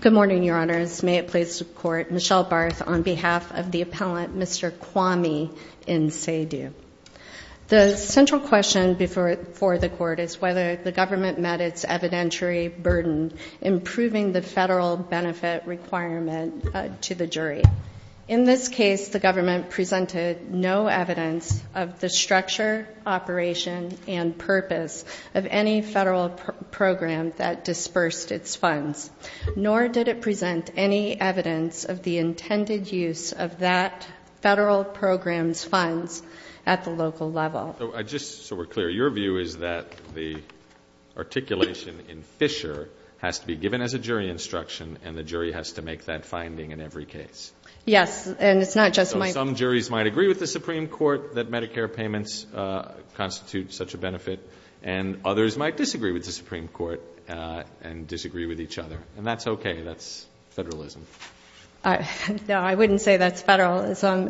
Good morning, your honors. May it please the court, Michelle Barth on behalf of the appellant Mr. Kwame Nsedu. The central question before for the court is whether the government met its evidentiary burden improving the federal benefit requirement to the jury. In this case, the government presented no evidence of the structure, operation, and purpose of any federal program that nor did it present any evidence of the intended use of that federal program's funds at the local level. So just so we're clear, your view is that the articulation in Fisher has to be given as a jury instruction and the jury has to make that finding in every case? Yes. And it's not just my... Some juries might agree with the Supreme Court that Medicare payments constitute such a benefit and others might disagree with the Supreme Court and disagree with each other. And that's okay. That's federalism. No, I wouldn't say that's federalism.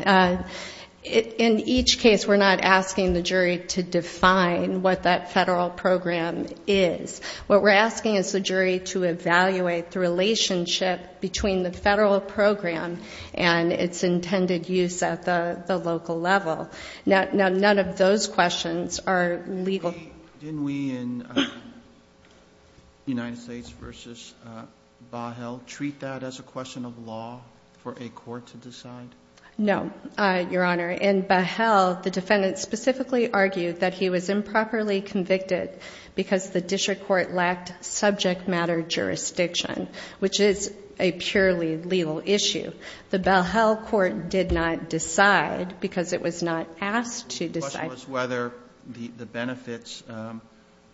In each case, we're not asking the jury to define what that federal program is. What we're asking is the jury to evaluate the relationship between the federal program and its intended use at the local level. Now, none of those questions are legal. Didn't we in United States v. Bahel treat that as a question of law for a court to decide? No, Your Honor. In Bahel, the defendant specifically argued that he was improperly convicted because the district court lacked subject matter jurisdiction, which is a purely legal issue. The question was whether the benefits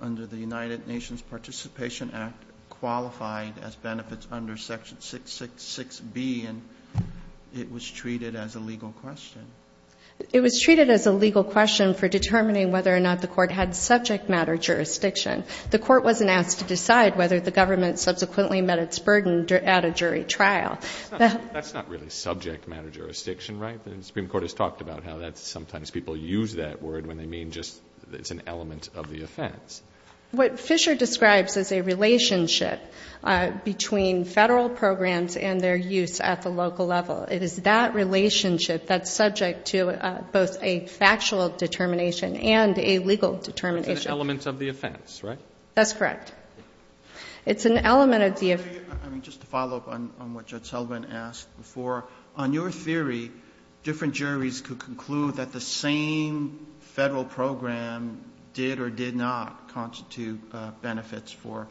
under the United Nations Participation Act qualified as benefits under Section 666B, and it was treated as a legal question. It was treated as a legal question for determining whether or not the court had subject matter jurisdiction. The court wasn't asked to decide whether the government subsequently met its burden at a jury trial. That's not really subject matter jurisdiction, right? The Supreme Court has talked about how that's sometimes people use that word when they mean just it's an element of the offense. What Fisher describes is a relationship between federal programs and their use at the local level. It is that relationship that's subject to both a factual determination and a legal determination. It's an element of the offense, right? That's correct. It's an element of the offense. I mean, just to follow up on what Judge Sullivan asked before, on your theory, different juries could conclude that the same Federal program did or did not constitute benefits for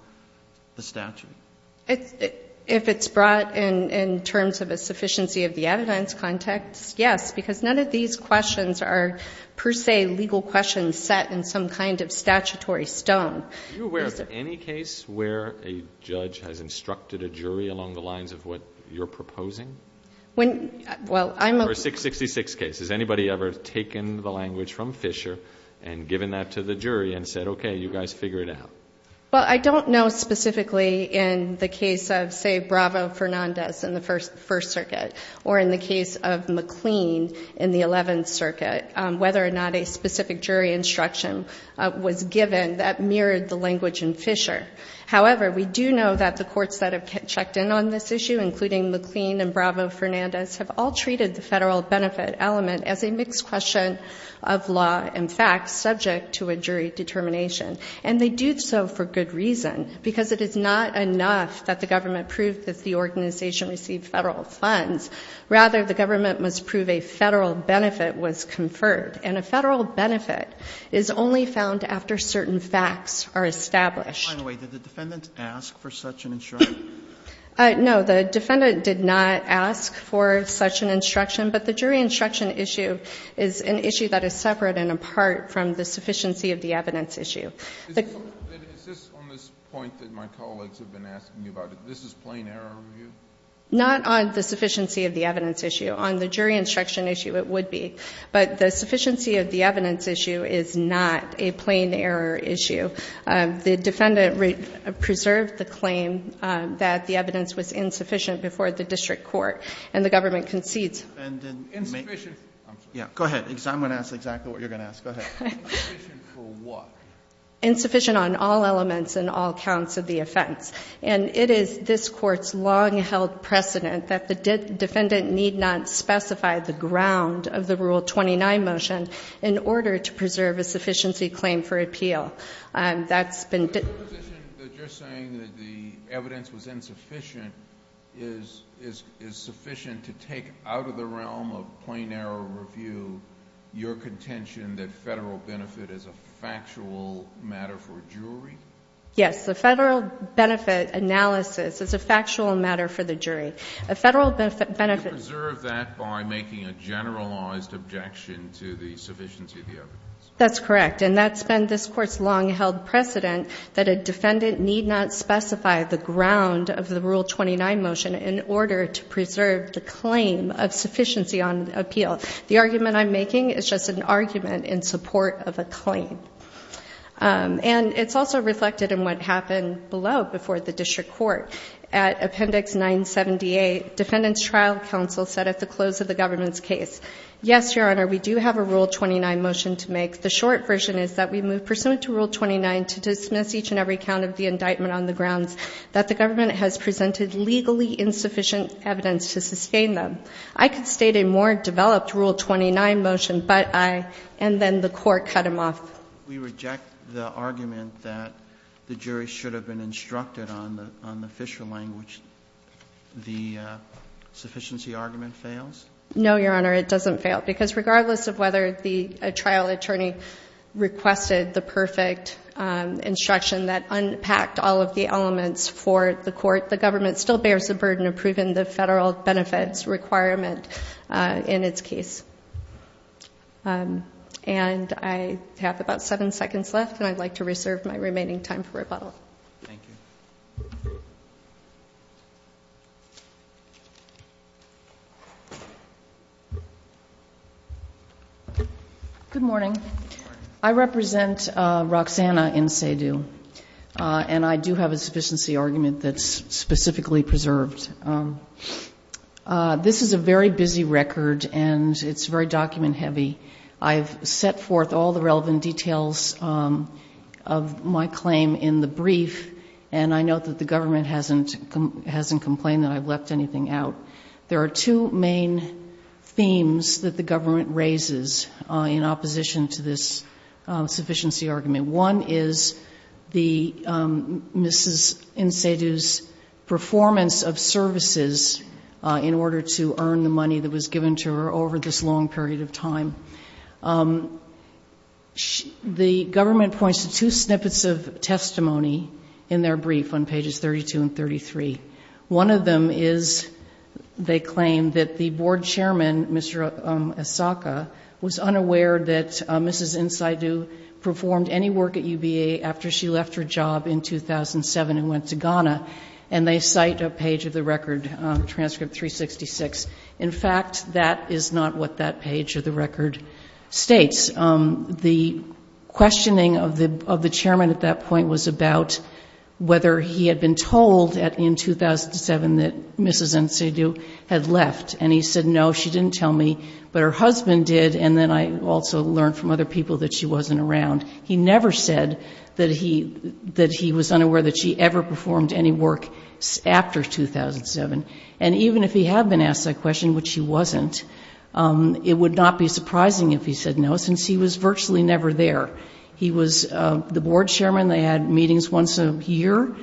the statute? If it's brought in terms of a sufficiency of the evidence context, yes, because none of these questions are per se legal questions set in some kind of statutory stone. Are you aware of any case where a judge has instructed a jury along the lines of what you're proposing? For a 666 case, has anybody ever taken the language from Fisher and given that to the jury and said, okay, you guys figure it out? Well, I don't know specifically in the case of, say, Bravo Fernandez in the First Circuit or in the case of McLean in the Eleventh Circuit whether or not a judge has conferred the language in Fisher. However, we do know that the courts that have checked in on this issue, including McLean and Bravo Fernandez, have all treated the Federal benefit element as a mixed question of law and facts subject to a jury determination. And they do so for good reason, because it is not enough that the government proved that the organization received Federal funds. Rather, the government must prove a Federal benefit was conferred. And a Federal benefit is only found after certain facts are established. By the way, did the defendant ask for such an instruction? No. The defendant did not ask for such an instruction. But the jury instruction issue is an issue that is separate and apart from the sufficiency of the evidence issue. Is this on this point that my colleagues have been asking me about? This is plain error review? Not on the sufficiency of the evidence issue. On the jury instruction issue, it would be. But the sufficiency of the evidence issue is not a plain error issue. The defendant preserved the claim that the evidence was insufficient before the district court. And the government concedes. Insufficient. Go ahead, because I'm going to ask exactly what you're going to ask. Go ahead. Insufficient for what? Insufficient on all elements and all counts of the offense. And it is this Court's long-held precedent that the defendant need not specify the ground of the Rule 29 motion in order to preserve a sufficiency claim for appeal. That's been. The position that you're saying that the evidence was insufficient is sufficient to take out of the realm of plain error review your contention that federal benefit is a factual matter for a jury? Yes. The federal benefit analysis is a factual matter for the jury. A federal benefit. You preserve that by making a generalized objection to the sufficiency of the evidence. That's correct. And that's been this Court's long-held precedent that a defendant need not specify the ground of the Rule 29 motion in order to preserve the claim of sufficiency on appeal. The argument I'm making is just an argument in support of a claim. And it's also reflected in what happened below before the district court. At appendix 978 defendants trial counsel said at the close of the government's case. Yes, your honor. We do have a Rule 29 motion to make the short version is that we move pursuant to Rule 29 to dismiss each and every count of the indictment on the grounds that the government has presented legally insufficient evidence to sustain them. I could state a more developed Rule 29 motion, but I and then the court cut him off. We reject the argument that the jury should have been instructed on the on the Fisher language. The sufficiency argument fails. No, your honor. It doesn't fail because regardless of whether the trial attorney requested the perfect instruction that unpacked all of the elements for the court. The government still bears the burden of proving the federal benefits requirement in its case. And I have about seven seconds left and I'd like to reserve my remaining time for rebuttal. Good morning. I represent Roxanna in say do and I do have a sufficiency argument that's specifically preserved. This is a very busy record and it's very document heavy. I've set forth all the relevant details of my claim in the brief and I know that the government hasn't hasn't complained that I've left anything out. There are two main themes that the government raises in opposition to this sufficiency argument. One is the mrs. Insiders performance of services in order to earn the money that was given to her over this long period of time. The government points to two snippets of testimony in their brief on pages 32 and 33. One of them is they claim that the board chairman, Mr. Asaka was unaware that Mrs. Insider performed any work at UBA after she left her job in 2007 and went to Ghana and they cite a page of the record transcript 366. In fact, that is not what that page of the record states. The questioning of the of the chairman at that point was about whether he had been told at in 2007 that Mrs. Insider had left and he said no. She didn't tell me but her husband did and then I also learned from other people that she wasn't around. He never said that he that he was unaware that she ever performed any work after 2007 and even if he had been asked that question, which he wasn't, it would not be surprising if he said no since he was virtually never there. He was the board chairman. They had meetings once a year.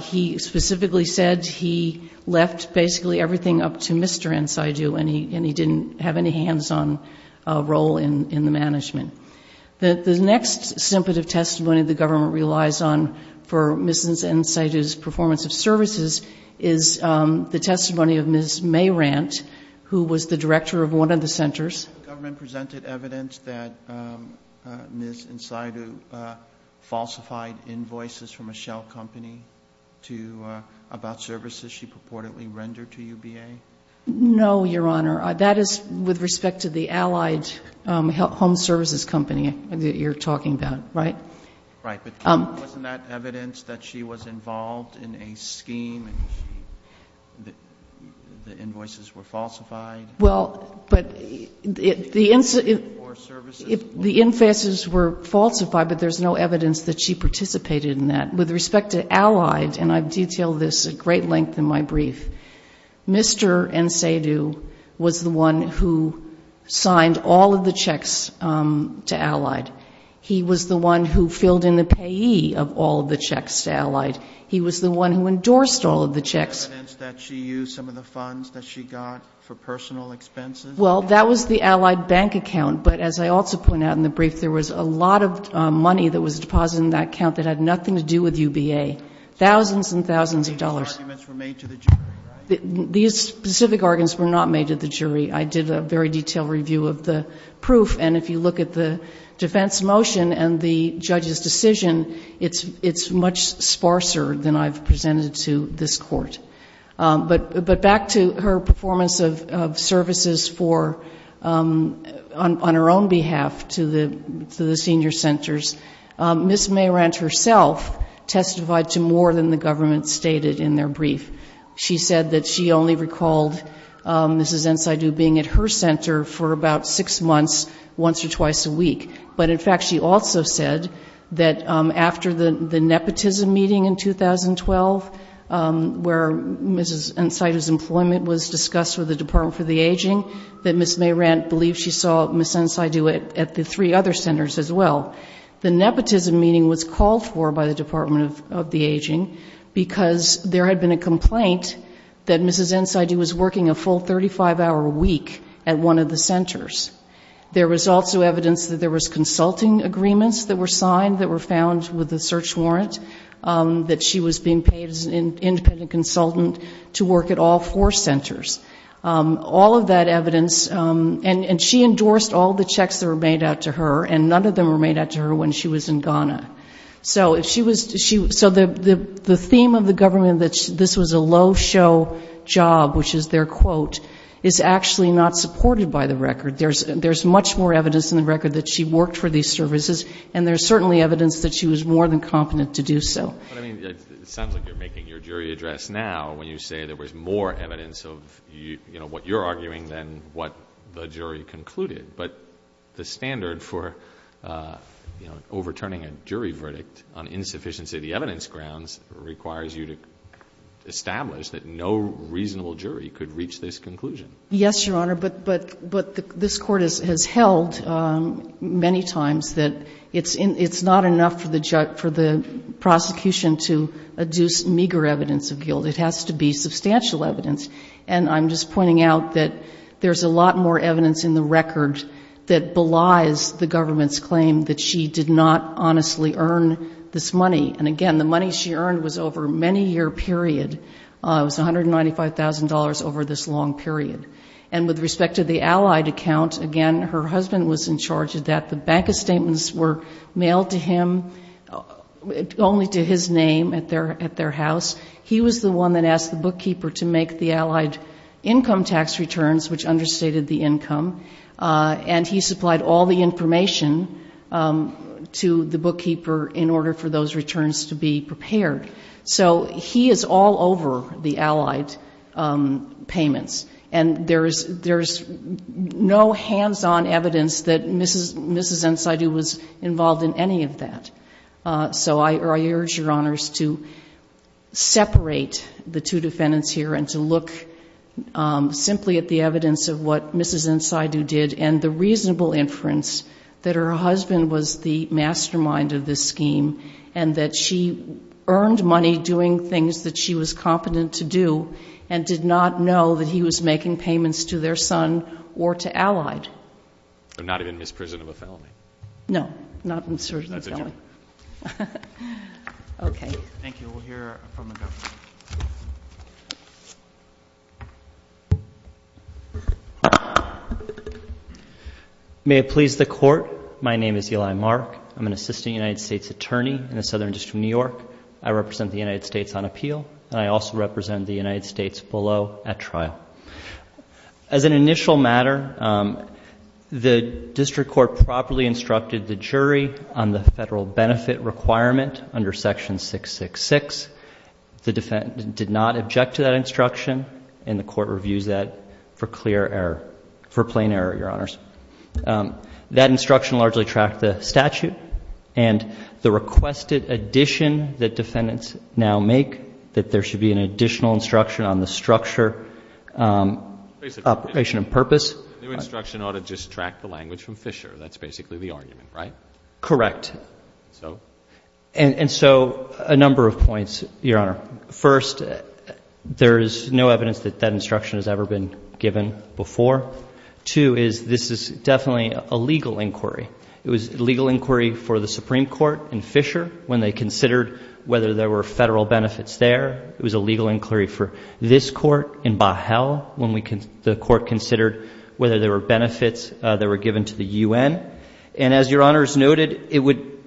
He specifically said he left basically everything up to Mr. Insider and he didn't have any hands-on role in the management. The next snippet of testimony the government relies on for Mrs. Insider's performance of services is the testimony of Ms. Mayrant, who was the director of one of the centers. Government presented evidence that Ms. Insider falsified invoices from a shell company to about services she purportedly rendered to UBA? No, Your Honor. That is with respect to the allied home services company that you're talking about, right? Right. But wasn't that evidence that she was involved in a scheme and the invoices were falsified? Well, but the in-faces were falsified but there's no evidence that she participated in that. With respect to allied, and I've detailed this at great length in my brief, Mr. Insider was the one who signed all of the checks to allied. He was the one who filled in the payee of all of the checks to allied. He was the one who endorsed all of the checks. Was there evidence that she used some of the funds that she got for personal expenses? Well, that was the allied bank account, but as I also point out in the brief, there was a lot of money that was deposited in that account that had nothing to do with UBA. Thousands and thousands of dollars. These specific arguments were made to the jury, right? These specific arguments were not made to the jury. I did a very detailed review of the proof and if you look at the defense motion and the judge's decision, it's much sparser than I've presented to this court. But back to her performance of services on her own behalf to the senior centers, Ms. Mehrant herself testified to more than the government stated in their brief. She said that she only recalled Ms. Insider being at her center for about six months, once or twice a week. But in fact, she also said that after the nepotism meeting in 2012, where Ms. Insider's employment was discussed with the Department for the Aging, that Ms. Mehrant believed she saw Ms. Insider at the three other centers as well. The nepotism meeting was called for by the Department of the Aging because there had been a complaint that Ms. Insider was working a full 35-hour week at one of the centers. There was also evidence that there was consulting agreements that were signed, that were found with a search warrant, that she was being paid as an independent consultant to work at all four centers. All of that evidence and she endorsed all the checks that were made out to her and none of them were made out to her when she was in Ghana. So the theme of the government that this was a low show job, which is their quote, is actually not supported by the record. There's much more evidence in the record that she worked for these services and there's certainly evidence that she was more than competent to do so. But I mean, it sounds like you're making your jury address now when you say there was more evidence of what you're arguing than what the jury concluded. But the standard for overturning a jury verdict on insufficiency of the evidence grounds requires you to establish that no reasonable jury could reach this conclusion. Yes, Your Honor, but this Court has held many times that it's not enough for the prosecution to adduce meager evidence of guilt. It has to be substantial evidence and I'm just pointing out that there's a lot more evidence in the record that belies the government's claim that she did not honestly earn this money. And again, the money she earned was over a many-year period. It was $195,000 over this long period. And with respect to the Allied account, again, her husband was in charge of that. The bank statements were mailed to him only to his name at their house. He was the one that asked the bookkeeper to make the Allied income tax returns, which understated the income, and he supplied all the information to the bookkeeper in order for those returns to be prepared. So he is all over the Allied payments. And there's no hands-on evidence that Mrs. Ensaydu was involved in any of that. So I urge Your Honors to separate the two defendants here and to look simply at the evidence of what Mrs. Ensaydu did and the reasonable inference that her husband was the mastermind of this scheme and that she earned money doing things that she was competent to do and did not know that he was making payments to their son or to Allied. I'm not even in this prison of a felony. No, not in the prison of a felony. Okay. Thank you. We'll hear from the defense attorney. May it please the Court, my name is Eli Mark. I'm an assistant United States attorney in the Southern District of New York. I represent the United States on appeal, and I also represent the United States below at trial. As an initial matter, the district court properly instructed the jury on the defendant did not object to that instruction, and the court reviews that for clear error, for plain error, Your Honors. That instruction largely tracked the statute and the requested addition that defendants now make that there should be an additional instruction on the structure, operation and purpose. The new instruction ought to just track the language from Fisher. That's basically the argument, right? Correct. So? And so, a number of points, Your Honor. First, there is no evidence that that instruction has ever been given before. Two is, this is definitely a legal inquiry. It was a legal inquiry for the Supreme Court in Fisher when they considered whether there were federal benefits there. It was a legal inquiry for this court in Bahel when the court considered whether there were benefits that were given to the UN. And as Your Honors noted, it would,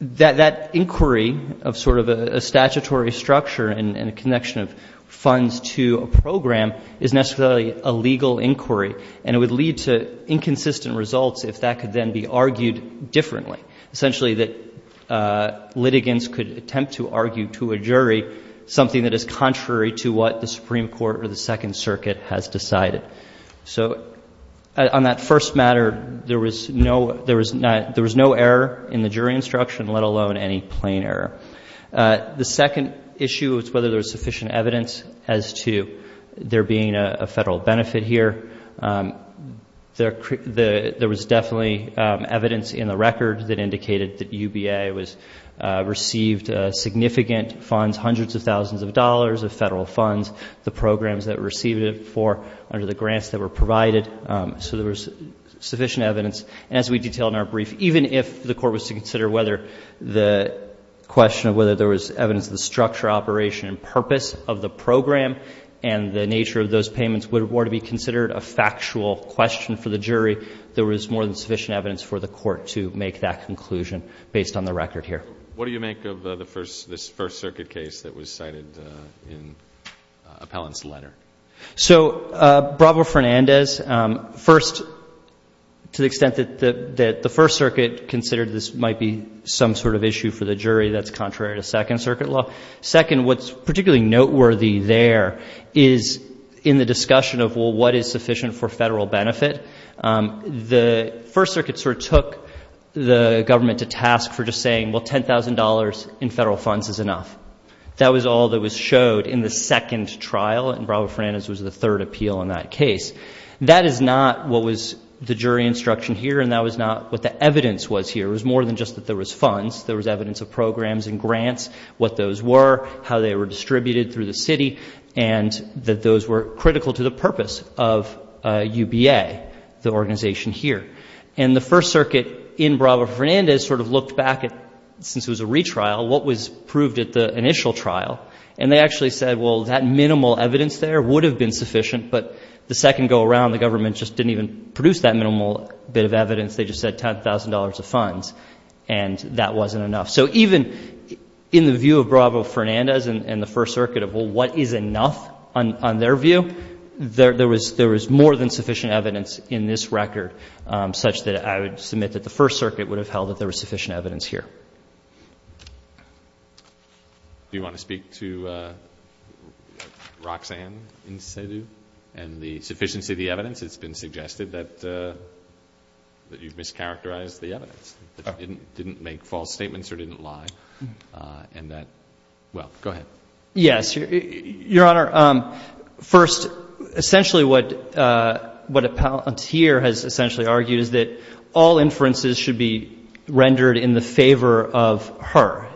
that inquiry of sort of a statutory structure and a connection of funds to a program is necessarily a legal inquiry, and it would lead to inconsistent results if that could then be argued differently. Essentially, that litigants could attempt to argue to a jury something that is contrary to what the Supreme Court or the Second Circuit has decided. So, on that first matter, there was no error in the jury instruction, let alone any plain error. The second issue was whether there was sufficient evidence as to there being a federal benefit here. There was definitely evidence in the record that indicated that UBA received significant funds, hundreds of thousands of dollars of federal funds. The programs that received it for, under the grants that were provided. So, there was sufficient evidence. And as we detail in our brief, even if the court was to consider whether the question of whether there was evidence of the structure, operation, and purpose of the program and the nature of those payments were to be considered a factual question for the jury, there was more than sufficient evidence for the court to make that conclusion based on the record here. What do you make of this First Circuit case that was cited in Appellant's letter? So, Bravo-Fernandez, first, to the extent that the First Circuit considered this might be some sort of issue for the jury that's contrary to Second Circuit law. Second, what's particularly noteworthy there is in the discussion of what is sufficient for federal benefit, the First Circuit sort of took the government to task for just saying, well, $10,000 in federal funds is enough. That was all that was showed in the second trial, and Bravo-Fernandez was the third appeal in that case. That is not what was the jury instruction here, and that was not what the evidence was here. It was more than just that there was funds. There was evidence of programs and grants, what those were, how they were distributed through the city, and that those were critical to the purpose of UBA, the organization here. And the First Circuit in Bravo-Fernandez sort of looked back at, since it was a retrial, what was proved at the initial trial, and they actually said, well, that minimal evidence there would have been sufficient, but the second go-around, the government just didn't even produce that minimal bit of evidence. They just said $10,000 of funds, and that wasn't enough. So even in the view of Bravo-Fernandez and the First Circuit of, well, what is enough on their view, there was more than sufficient evidence in this record, such that I would submit that the First Circuit would have held that there was sufficient evidence here. Do you want to speak to Roxanne Insadu and the sufficiency of the evidence? It's been suggested that you've mischaracterized the evidence, that you didn't make false statements or didn't lie, and that, well, go ahead. Yes, Your Honor. First, essentially what Appellant here has essentially argued is that all inferences should be rendered in the favor of her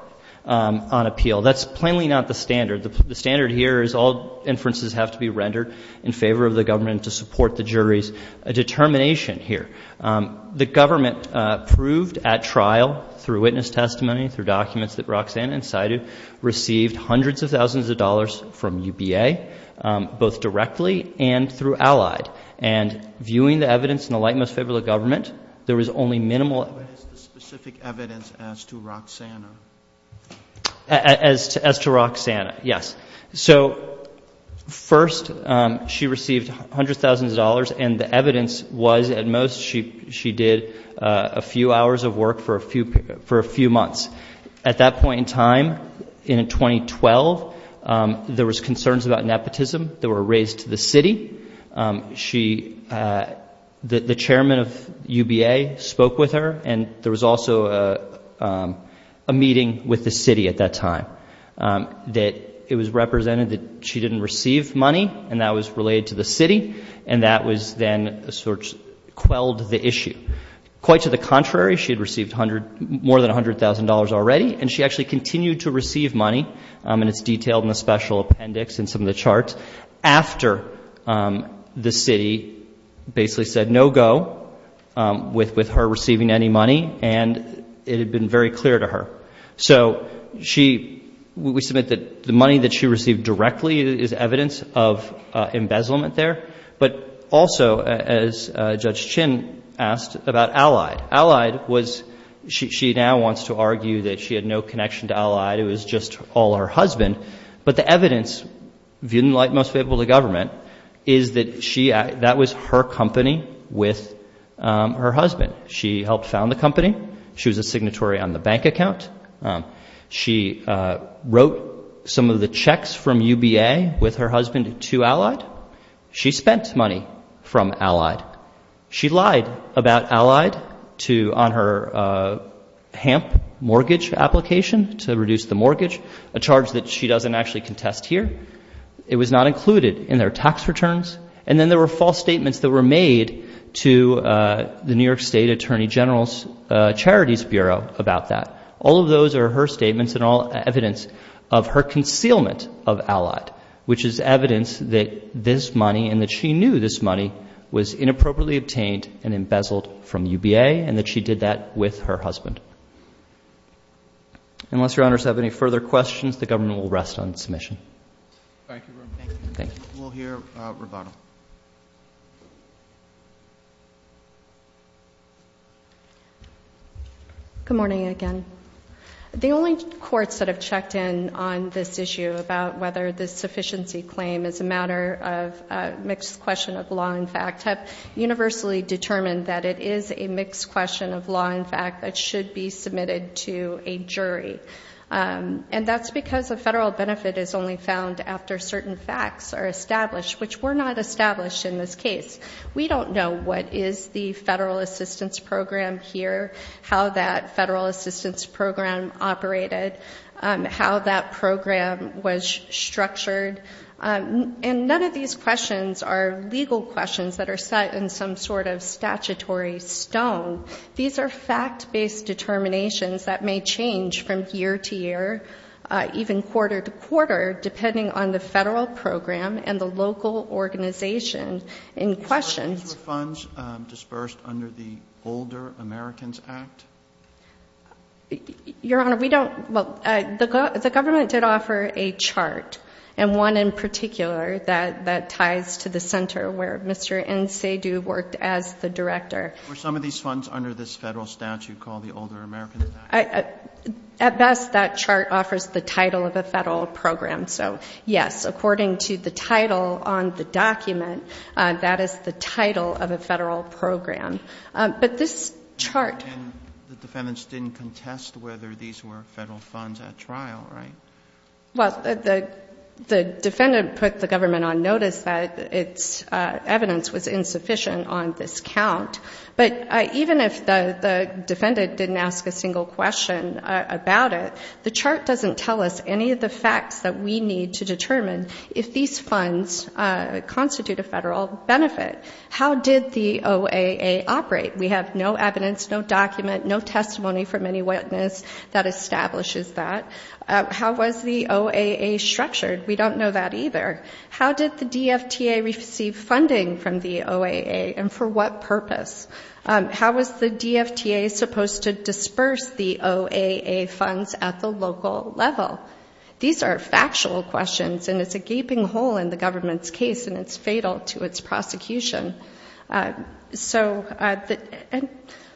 on appeal. That's plainly not the standard. The standard here is all inferences have to be rendered in favor of the government to support the jury's determination here. The government proved at trial through witness testimony, through documents that Roxanne Insadu received hundreds of thousands of dollars from UBA, both directly and through Allied. And viewing the evidence in the light most favorable of the government, there was only minimal evidence. What is the specific evidence as to Roxanne? As to Roxanne, yes. So first, she received hundreds of thousands of dollars, and the evidence was, at most, she did a few hours of work for a few months. At that point in time, in 2012, there was concerns about nepotism that were raised to the city. The chairman of UBA spoke with her, and there was also a meeting with the city at that time. That it was represented that she didn't receive money, and that was related to the city, and that was then sort of quelled the issue. Quite to the contrary, she had received more than $100,000 already, and she actually continued to receive money, and it's detailed in the special appendix and some of the charts, after the city basically said no go with her receiving any money, and it had been very clear to her. So she, we submit that the money that she received directly is evidence of embezzlement there, but also, as Judge Chin asked, about Allied. Allied was, she now wants to argue that she had no connection to Allied. It was just all her husband, but the evidence, viewed in the light most favorable to government, is that she, that was her company with her husband. She helped found the company. She was a signatory on the bank account. She wrote some of the checks from UBA with her husband to Allied. She spent money from Allied. She lied about Allied to, on her HAMP mortgage application to reduce the mortgage, a charge that she doesn't actually contest here. It was not included in their tax returns, and then there were false statements that were made to the New York State Attorney General's Charities Bureau about that. All of those are her statements and all evidence of her concealment of Allied, which is evidence that this money, and that she knew this money, was inappropriately obtained and embezzled from UBA, and that she did that with her husband. Unless your honors have any further questions, the government will rest on submission. Thank you. We'll hear rebuttal. Good morning again. The only courts that have checked in on this issue about whether this sufficiency claim is a matter of a mixed question of law and fact have universally determined that it is a mixed question And that's because a federal benefit is only found after certain facts are established, which were not established in this case. We don't know what is the federal assistance program here, how that federal assistance program operated, how that program was structured. And none of these questions are legal questions that are set in some sort of statutory stone. These are fact-based determinations that may change from year to year, even quarter to quarter, depending on the federal program and the local organization in question. So these were funds dispersed under the Older Americans Act? Your honor, we don't, well, the government did offer a chart, and one in particular that ties to the center where Mr. Ncedu worked as the director. Were some of these funds under this federal statute called the Older Americans Act? At best, that chart offers the title of a federal program. So, yes, according to the title on the document, that is the title of a federal program. But this chart... And the defendants didn't contest whether these were federal funds at trial, right? Well, the defendant put the government on notice that its evidence was insufficient on this count. But even if the defendant didn't ask a single question about it, the chart doesn't tell us any of the facts that we need to determine if these funds constitute a federal benefit. How did the OAA operate? We have no evidence, no document, no testimony from any witness that establishes that. How was the OAA structured? We don't know that either. How did the DFTA receive funding from the OAA, and for what purpose? How was the DFTA supposed to disperse the OAA funds at the local level? These are factual questions, and it's a gaping hole in the government's case, and it's fatal to its prosecution. So,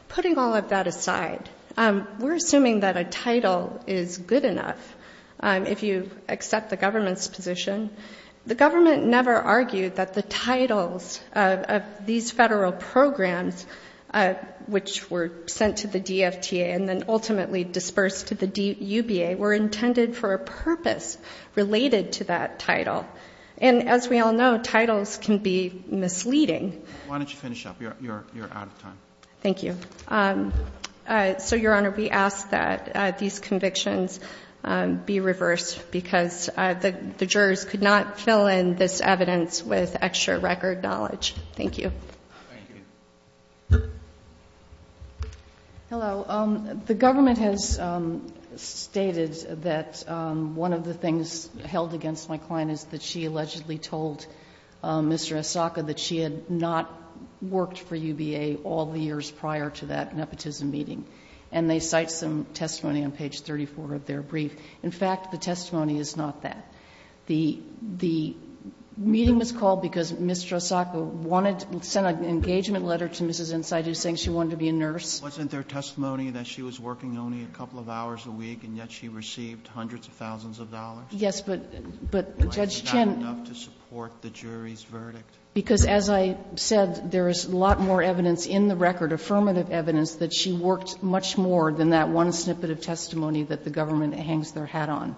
putting all of that aside, we're assuming that a title is good enough, if you accept the government's position. The government never argued that the titles of these federal programs, which were sent to the DFTA and then ultimately dispersed to the UBA, were intended for a purpose related to that title. And as we all know, titles can be misleading. Why don't you finish up? You're out of time. Thank you. So, Your Honor, we ask that these convictions be reversed, because the jurors could not fill in this evidence with extra record knowledge. Thank you. Thank you. Hello. The government has stated that one of the things held against my client is that she allegedly told Mr. Asaka that she had not worked for UBA all the years prior to that nepotism meeting. And they cite some testimony on page 34 of their brief. In fact, the testimony is not that. The meeting was called because Mr. Asaka wanted to send an engagement letter to Mrs. Ensai, just saying she wanted to be a nurse. Wasn't there testimony that she was working only a couple of hours a week, and yet she received hundreds of thousands of dollars? Yes, but Judge Chin. Not enough to support the jury's verdict. Because as I said, there is a lot more evidence in the record, affirmative evidence, that she worked much more than that one snippet of testimony that the government hangs their hat on.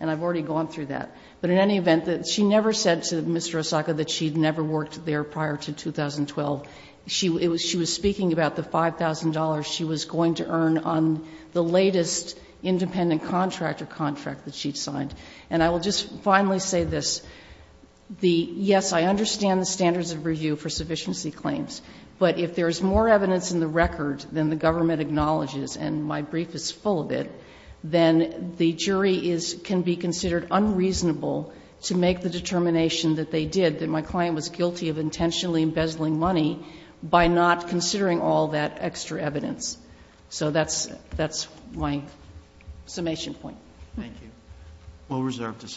And I've already gone through that. But in any event, she never said to Mr. Asaka that she had never worked there prior to 2012. She was speaking about the $5,000 she was going to earn on the latest independent contractor contract that she'd signed. And I will just finally say this. Yes, I understand the standards of review for sufficiency claims. But if there is more evidence in the record than the government acknowledges, and my brief is full of it, then the jury can be considered unreasonable to make the determination that they did, that my client was guilty of intentionally embezzling money, by not considering all that extra evidence. So that's my summation point. Thank you. We'll reserve this.